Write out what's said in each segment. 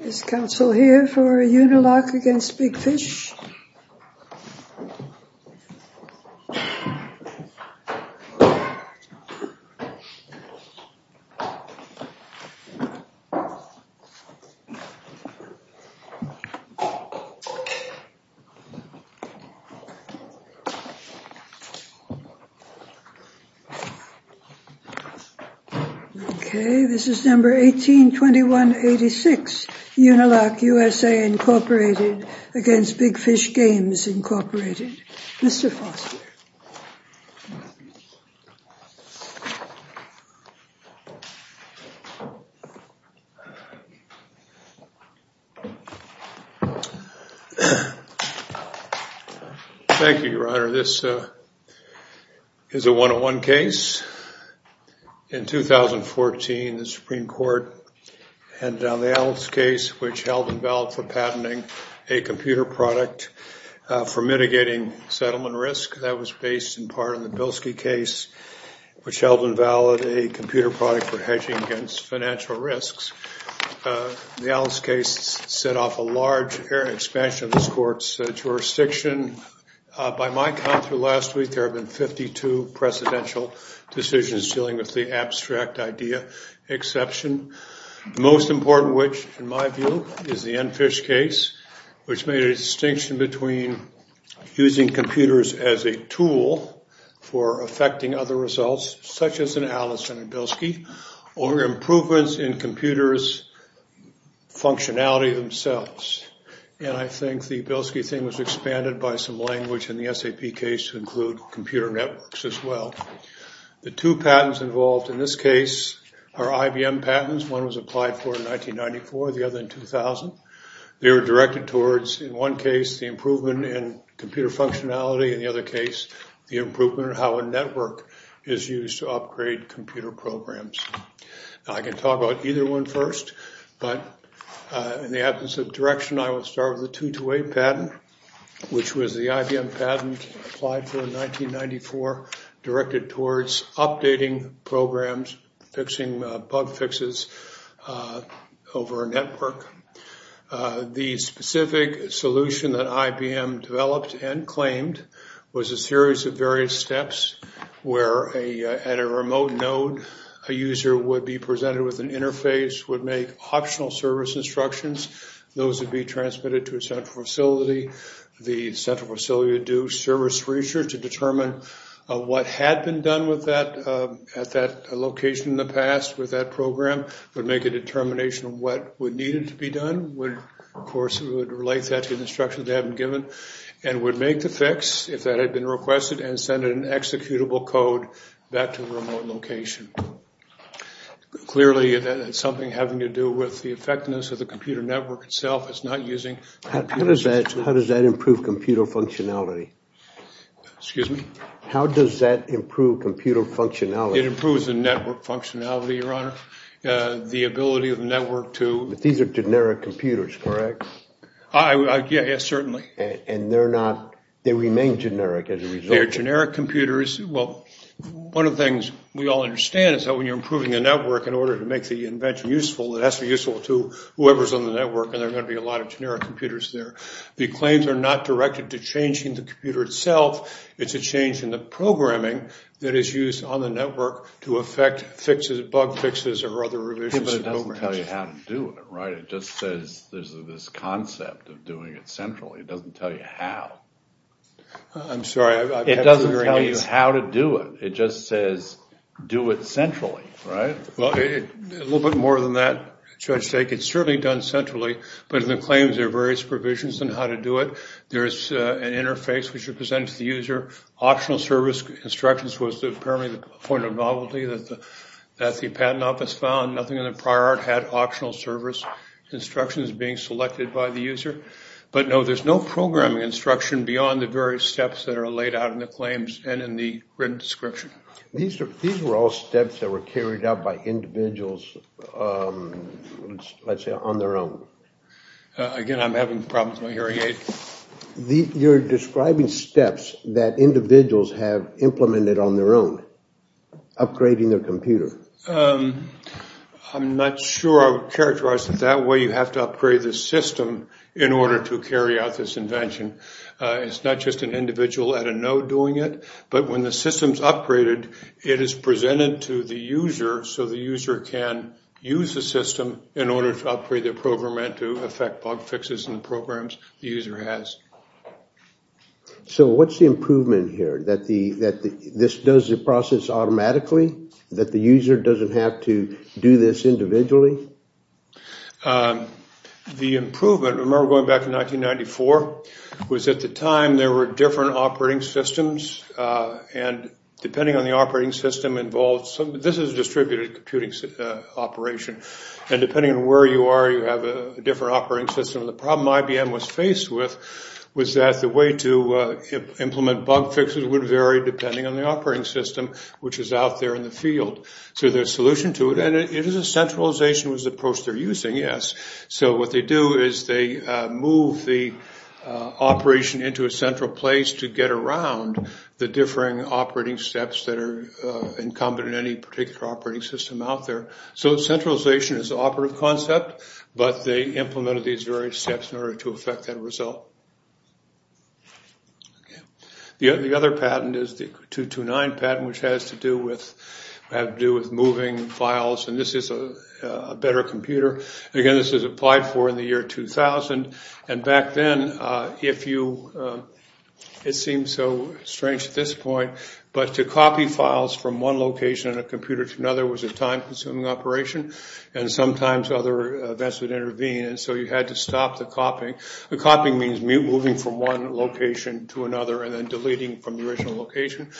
Is council here for a unilock against big fish? Okay, this is number 182186 Unilock USA Incorporated against big fish games Incorporated. Mr. Foster. Thank you, Your Honor. This is a one-on-one case. In 2014, the Supreme Court handed down the Alice case which held invalid for patenting a computer product for mitigating settlement risk. That was based in part on the Bilski case, which held invalid a computer product for hedging against financial risks. The Alice case set off a large expansion of this court's jurisdiction. By my count through last week, there have been 52 presidential decisions dealing with the abstract idea exception. The most important, which in my view, is the Enfish case, which made a distinction between using computers as a tool for affecting other results, such as an Alice and a Bilski, or improvements in computers' functionality themselves. I think the Bilski thing was expanded by some language in the SAP case to include computer networks as well. The two patents involved in this case are IBM patents. One was applied for in 1994, the other in 2000. They were directed towards, in one case, the improvement in computer functionality, and in the other case, the improvement in how a network is used to upgrade computer programs. I can talk about either one first, but in the absence of direction, I will start with the 228 patent, which was the IBM patent applied for in 1994, directed towards updating programs, fixing bug fixes over a network. The specific solution that IBM developed and claimed was a series of various steps where at a remote node, a user would be presented with an interface, would make optional service instructions. Those would be transmitted to a central facility. The central facility would do service research to determine what had been done at that location in the past with that program, would make a determination of what would need to be done. Of course, it would relate that to the instructions they had been given, and would make the fix, if that had been requested, and send an executable code back to the remote location. Clearly, it's something having to do with the effectiveness of the computer network itself. It's not using... How does that improve computer functionality? Excuse me? How does that improve computer functionality? It improves the network functionality, Your Honor. The ability of the network to... But these are generic computers, correct? Yes, certainly. And they're not... They remain generic as a result? They're generic computers. Well, one of the things we all understand is that when you're improving a network in order to make the invention useful, it has to be useful to whoever's on the network, and there are going to be a lot of generic computers there. The claims are not directed to changing the computer itself. It's a change in the programming that is used on the network to affect bug fixes or other revisions. But it doesn't tell you how to do it, right? It just says there's this concept of doing it centrally. It doesn't tell you how. I'm sorry, I... It doesn't tell you how to do it. It just says do it centrally, right? Well, a little bit more than that, Judge Dake. It's certainly done centrally, but in the claims there are various provisions on how to do it. There's an interface which represents the user. Optional service instructions was apparently the point of novelty that the patent office found. Nothing in the prior art had optional service instructions being selected by the user. But no, there's no programming instruction beyond the various steps that are laid out in the claims and in the written description. These were all steps that were carried out by individuals, let's say, on their own. Again, I'm having problems with my hearing aid. You're describing steps that individuals have implemented on their own, upgrading their computer. I'm not sure I would characterize it that way. You have to upgrade the system in order to carry out this invention. It's not just an individual at a node doing it. But when the system's upgraded, it is presented to the user so the user can use the system in order to upgrade their program and to effect bug fixes in the programs the user has. So what's the improvement here? That this does the process automatically? That the user doesn't have to do this individually? The improvement, remember going back to 1994, was at the time there were different operating systems. And depending on the operating system involved, this is a distributed computing operation. And depending on where you are, you have a different operating system. And the problem IBM was faced with was that the way to implement bug fixes would vary depending on the operating system, which is out there in the field. So there's a solution to it, and it is a centralization approach they're using, yes. So what they do is they move the operation into a central place to get around the differing operating steps that are incumbent on any particular operating system out there. So centralization is an operative concept, but they implemented these various steps in order to effect that result. The other patent is the 229 patent, which has to do with moving files. And this is a better computer. Again, this was applied for in the year 2000. And back then, if you, it seems so strange at this point, but to copy files from one location on a computer to another was a time-consuming operation. And sometimes other events would intervene, and so you had to stop the copying. Copying means moving from one location to another and then deleting from the original location.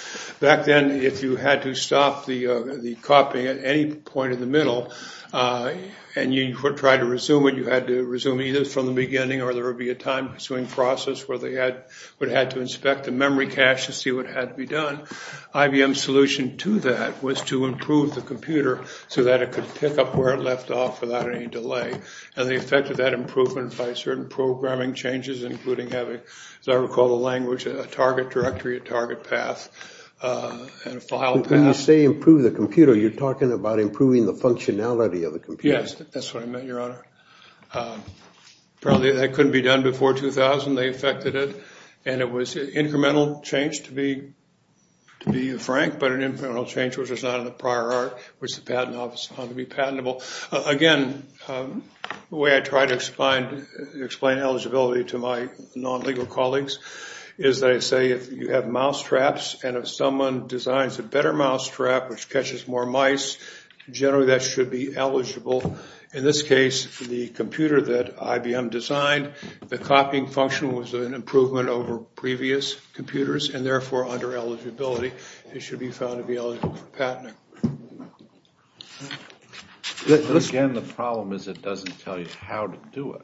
Back then, if you had to stop the copying at any point in the middle and you tried to resume it, you had to resume either from the beginning or there would be a time-consuming process where they would have to inspect the memory cache to see what had to be done. IBM's solution to that was to improve the computer so that it could pick up where it left off without any delay. And they effected that improvement by certain programming changes, including having, as I recall the language, a target directory, a target path, and a file path. When you say improve the computer, you're talking about improving the functionality of the computer. Yes, that's what I meant, Your Honor. Apparently that couldn't be done before 2000. They effected it, and it was an incremental change, to be frank, but an incremental change which was not in the prior art, which the patent office found to be patentable. Again, the way I try to explain eligibility to my non-legal colleagues is that I say if you have mousetraps and if someone designs a better mousetrap which catches more mice, generally that should be eligible. In this case, the computer that IBM designed, the copying function was an improvement over previous computers and therefore under eligibility it should be found to be eligible for patenting. Again, the problem is it doesn't tell you how to do it.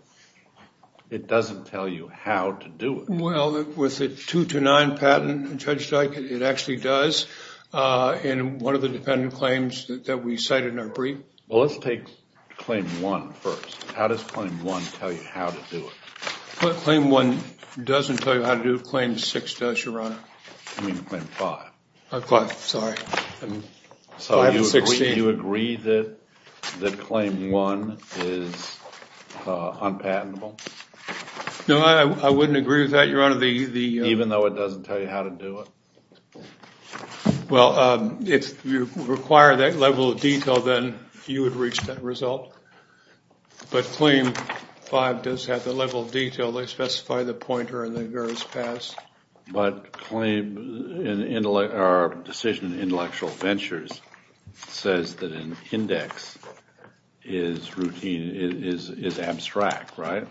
It doesn't tell you how to do it. Well, with the 2-9 patent, Judge Dyke, it actually does. In one of the dependent claims that we cited in our brief. Well, let's take claim one first. How does claim one tell you how to do it? Claim one doesn't tell you how to do it. Claim six does, Your Honor. I mean claim five. Five, sorry. So you agree that claim one is unpatentable? No, I wouldn't agree with that, Your Honor. Even though it doesn't tell you how to do it? Well, if you require that level of detail, then you would reach that result, but claim five does have the level of detail. They specify the pointer and then it goes past. But claim, or decision in Intellectual Ventures says that an index is routine, is abstract, right?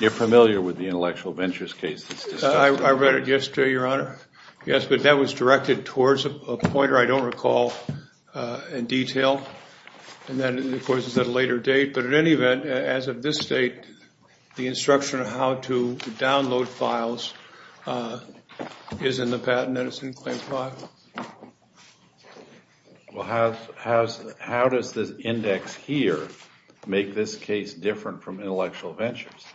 You're familiar with the Intellectual Ventures case? I read it yesterday, Your Honor. Yes, but that was directed towards a pointer I don't recall in detail. And then, of course, it's at a later date. But in any event, as of this date, the instruction on how to download files is in the patent and it's in claim five. Well, how does this index here make this case different from Intellectual Ventures?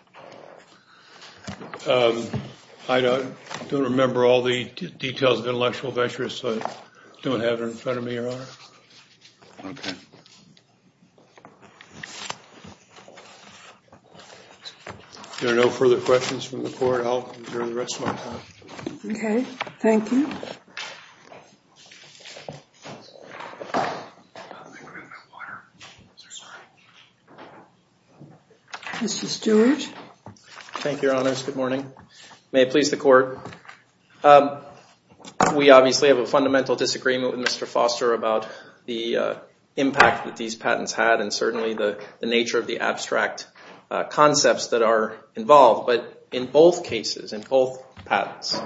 I don't remember all the details of Intellectual Ventures, so I don't have it in front of me, Your Honor. Okay. If there are no further questions from the Court, I'll adjourn the rest of my time. Okay, thank you. Mr. Stewart. Thank you, Your Honors. Good morning. May it please the Court. We obviously have a fundamental disagreement with Mr. Foster about the impact that these patents had and certainly the nature of the abstract concepts that are involved. But in both cases, in both patents,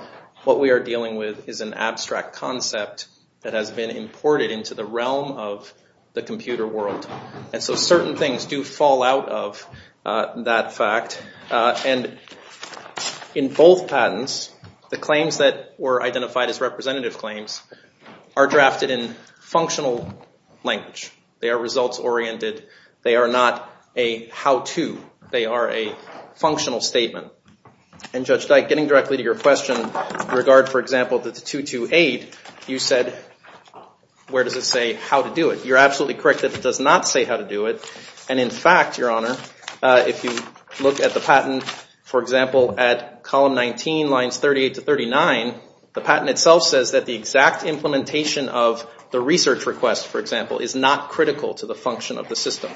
what we are dealing with is an abstract concept that has been imported into the realm of the computer world. And so certain things do fall out of that fact. And in both patents, the claims that were identified as representative claims are drafted in functional language. They are results-oriented. They are not a how-to. They are a functional statement. And Judge Dyke, getting directly to your question in regard, for example, to 228, you said, where does it say how to do it? You're absolutely correct that it does not say how to do it. And in fact, Your Honor, if you look at the patent, for example, at column 19, lines 38 to 39, the patent itself says that the exact implementation of the research request, for example, is not critical to the function of the system.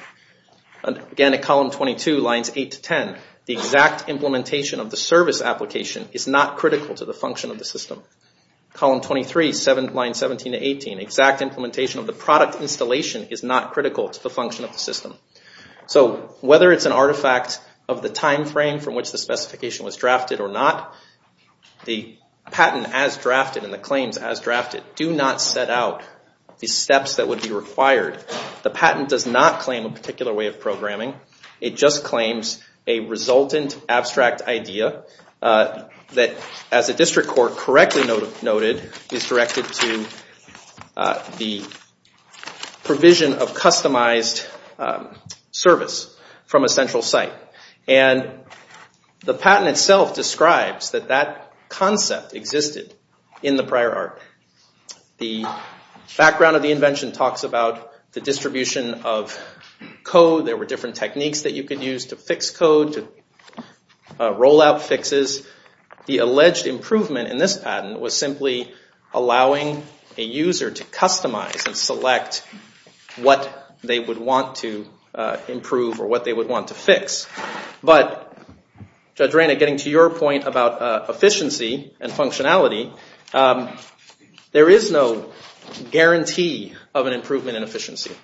Again, at column 22, lines 8 to 10, the exact implementation of the service application is not critical to the function of the system. Column 23, lines 17 to 18, exact implementation of the product installation is not critical to the function of the system. So whether it's an artifact of the time frame from which the specification was drafted or not, the patent as drafted and the claims as drafted do not set out the steps that would be required. The patent does not claim a particular way of programming. It just claims a resultant abstract idea that, as the district court correctly noted, is directed to the provision of customized service from a central site. And the patent itself describes that that concept existed in the prior art. The background of the invention talks about the distribution of code. There were different techniques that you could use to fix code, to roll out fixes. The alleged improvement in this patent was simply allowing a user to customize and select what they would want to improve or what they would want to fix. But, Judge Reyna, getting to your point about efficiency and functionality, there is no guarantee of an improvement in efficiency.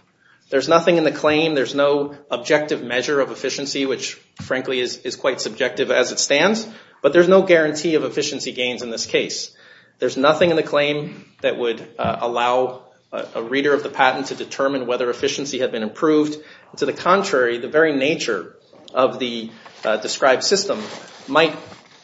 There's nothing in the claim, there's no objective measure of efficiency, which frankly is quite subjective as it stands, but there's no guarantee of efficiency gains in this case. There's nothing in the claim that would allow a reader of the patent to determine whether efficiency had been improved. To the contrary, the very nature of the described system might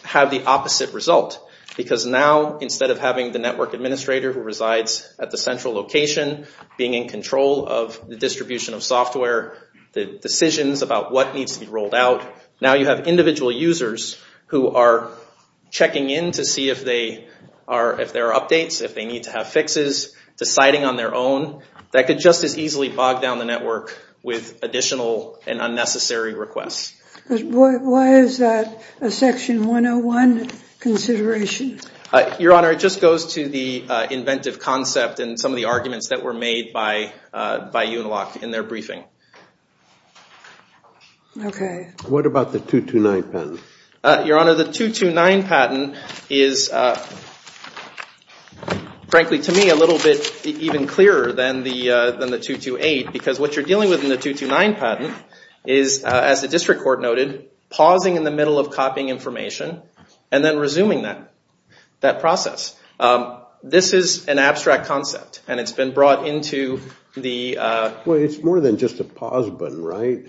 have the opposite result. Because now, instead of having the network administrator who resides at the central location, being in control of the distribution of software, the decisions about what needs to be rolled out, now you have individual users who are checking in to see if there are updates, if they need to have fixes, deciding on their own. That could just as easily bog down the network with additional and unnecessary requests. Why is that a Section 101 consideration? Your Honor, it just goes to the inventive concept and some of the arguments that were made by Unilock in their briefing. Okay. What about the 229 patent? Your Honor, the 229 patent is frankly, to me, a little bit even clearer than the 228, because what you're dealing with in the 229 patent is, as the district court noted, pausing in the middle of copying information and then resuming that process. This is an abstract concept and it's been brought into the... Well, it's more than just a pause button, right?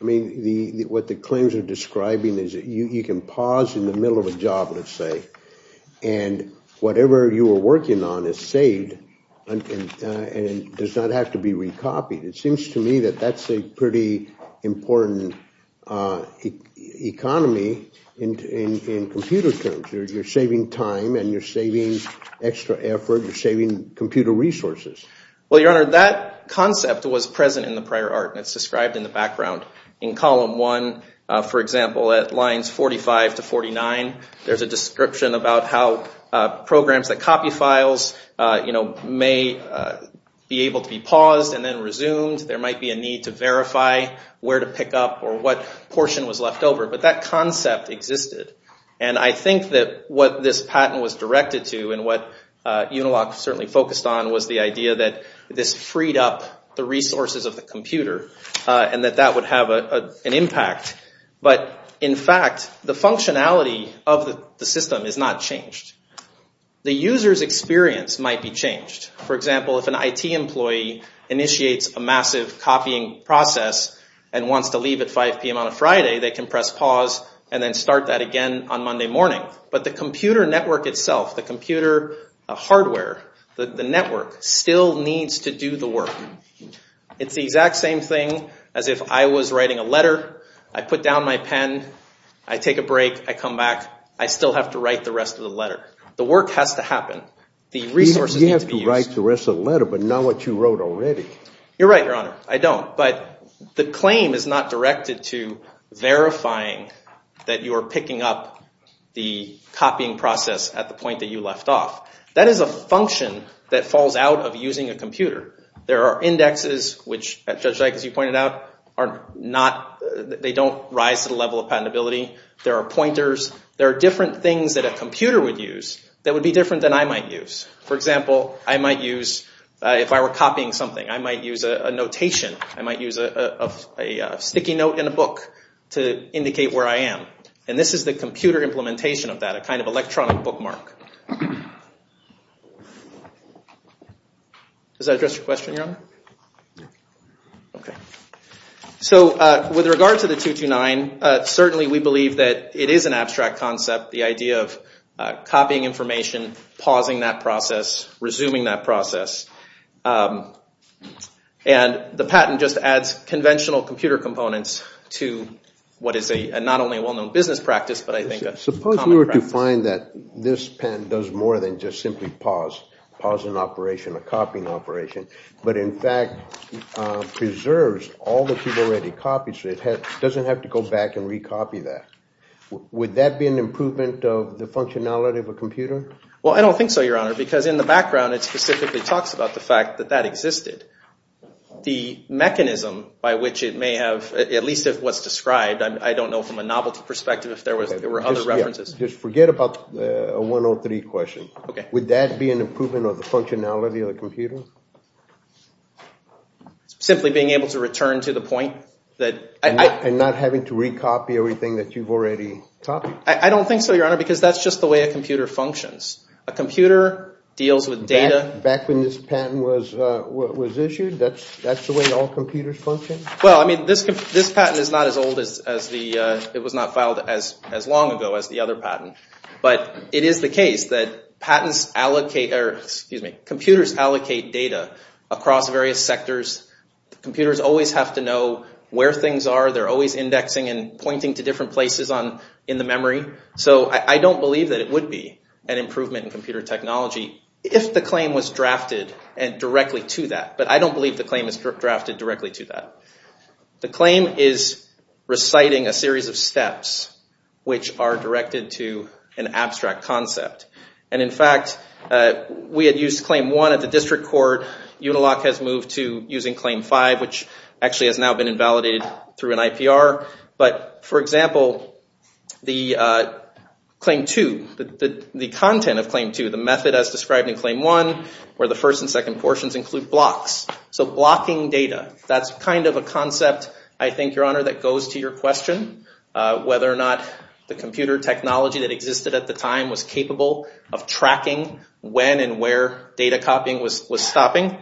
I mean, what the claims are describing is you can pause in the middle of a job, let's say, and whatever you were working on is saved and does not have to be recopied. It seems to me that that's a pretty important economy in computer terms. You're saving time and you're saving extra effort. You're saving computer resources. Well, Your Honor, that concept was present in the prior art and it's described in the background. In column one, for example, at lines 45 to 49, there's a description about how programs that copy files may be able to be paused and then resumed. There might be a need to verify where to pick up or what portion was left over, but that concept existed. And I think that what this patent was directed to and what Unilock certainly focused on was the idea that this freed up the resources of the computer and that that would have an impact. But, in fact, the functionality of the system is not changed. The user's experience might be changed. For example, if an IT employee initiates a massive copying process and wants to leave at 5 p.m. on a Friday, they can press pause and then start that again on Monday morning. But the computer network itself, the computer hardware, the network, still needs to do the work. It's the exact same thing as if I was writing a letter. I put down my pen. I take a break. I come back. I still have to write the rest of the letter. The work has to happen. The resources need to be used. You have to write the rest of the letter, but not what you wrote already. You're right, Your Honor. I don't. But the claim is not directed to verifying that you are picking up the copying process at the point that you left off. That is a function that falls out of using a computer. There are indexes, which, Judge Dyke, as you pointed out, they don't rise to the level of patentability. There are pointers. There are different things that a computer would use that would be different than I might use. For example, I might use, if I were copying something, I might use a notation. I might use a sticky note in a book to indicate where I am. And this is the computer implementation of that, a kind of electronic bookmark. Does that address your question, Your Honor? No. Okay. So with regard to the 229, certainly we believe that it is an abstract concept, the idea of copying information, pausing that process, resuming that process. And the patent just adds conventional computer components to what is not only a well-known business practice, but I think a common practice. If you were to find that this patent does more than just simply pause an operation, a copying operation, but in fact preserves all that you've already copied so it doesn't have to go back and recopy that, would that be an improvement of the functionality of a computer? Well, I don't think so, Your Honor, because in the background it specifically talks about the fact that that existed. The mechanism by which it may have, at least if what's described, I don't know from a novelty perspective if there were other references. Just forget about the 103 question. Okay. Would that be an improvement of the functionality of the computer? Simply being able to return to the point that I – And not having to recopy everything that you've already copied. I don't think so, Your Honor, because that's just the way a computer functions. A computer deals with data – Back when this patent was issued, that's the way all computers function? Well, I mean, this patent is not as old as the – it was not filed as long ago as the other patent. But it is the case that computers allocate data across various sectors. Computers always have to know where things are. They're always indexing and pointing to different places in the memory. So I don't believe that it would be an improvement in computer technology if the claim was drafted directly to that. But I don't believe the claim is drafted directly to that. The claim is reciting a series of steps which are directed to an abstract concept. And, in fact, we had used Claim 1 at the district court. Unilock has moved to using Claim 5, which actually has now been invalidated through an IPR. But, for example, the Claim 2, the content of Claim 2, the method as described in Claim 1, where the first and second portions include blocks. So blocking data, that's kind of a concept, I think, Your Honor, that goes to your question, whether or not the computer technology that existed at the time was capable of tracking when and where data copying was stopping.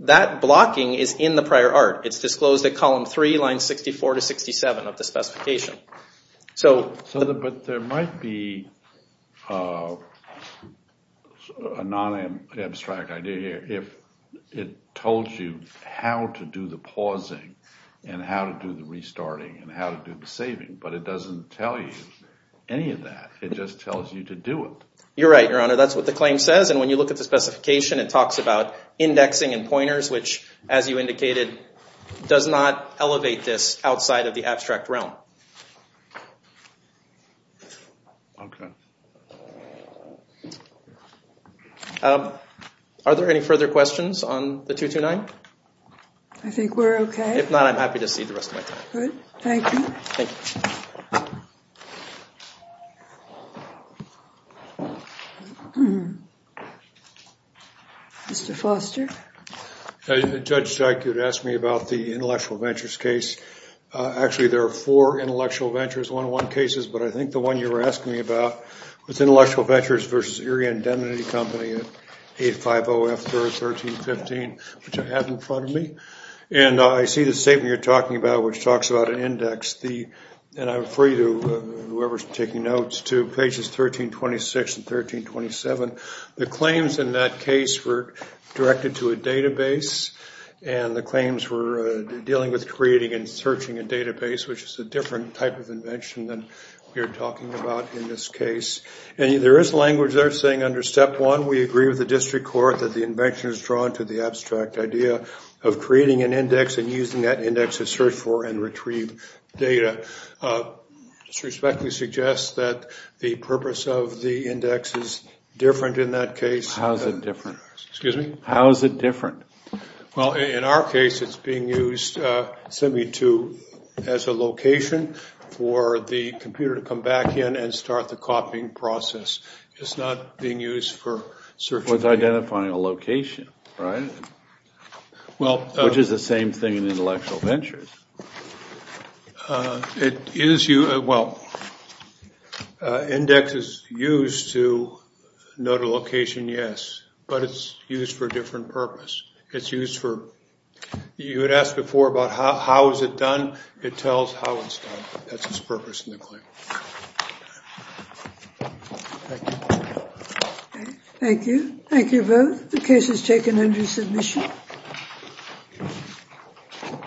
That blocking is in the prior art. It's disclosed at Column 3, Lines 64 to 67 of the specification. But there might be a non-abstract idea here if it told you how to do the pausing and how to do the restarting and how to do the saving, but it doesn't tell you any of that. It just tells you to do it. You're right, Your Honor. That's what the claim says. And when you look at the specification, it talks about indexing and pointers, which, as you indicated, does not elevate this outside of the abstract realm. Okay. Are there any further questions on the 229? I think we're okay. If not, I'm happy to cede the rest of my time. Good. Thank you. Thank you. Thank you. Mr. Foster? Judge Dyke, you had asked me about the intellectual ventures case. Actually, there are four intellectual ventures, one-on-one cases, but I think the one you were asking me about was intellectual ventures versus Erie Indemnity Company, 850F1315, which I have in front of me. And I see the statement you're talking about, which talks about an index. And I refer you, whoever is taking notes, to pages 1326 and 1327. The claims in that case were directed to a database, and the claims were dealing with creating and searching a database, which is a different type of invention than we are talking about in this case. And there is language there saying under Step 1, we agree with the district court that the invention is drawn to the abstract idea of creating an index and using that index to search for and retrieve data. This respectfully suggests that the purpose of the index is different in that case. How is it different? Excuse me? How is it different? Well, in our case, it's being used simply as a location for the computer to come back in and start the copying process. It's not being used for searching. Well, it's identifying a location, right? Which is the same thing in intellectual ventures. It is used, well, index is used to note a location, yes, but it's used for a different purpose. It's used for, you had asked before about how is it done. It tells how it's done. That's its purpose in the claim. Thank you. Thank you. Thank you both. The case is taken under submission.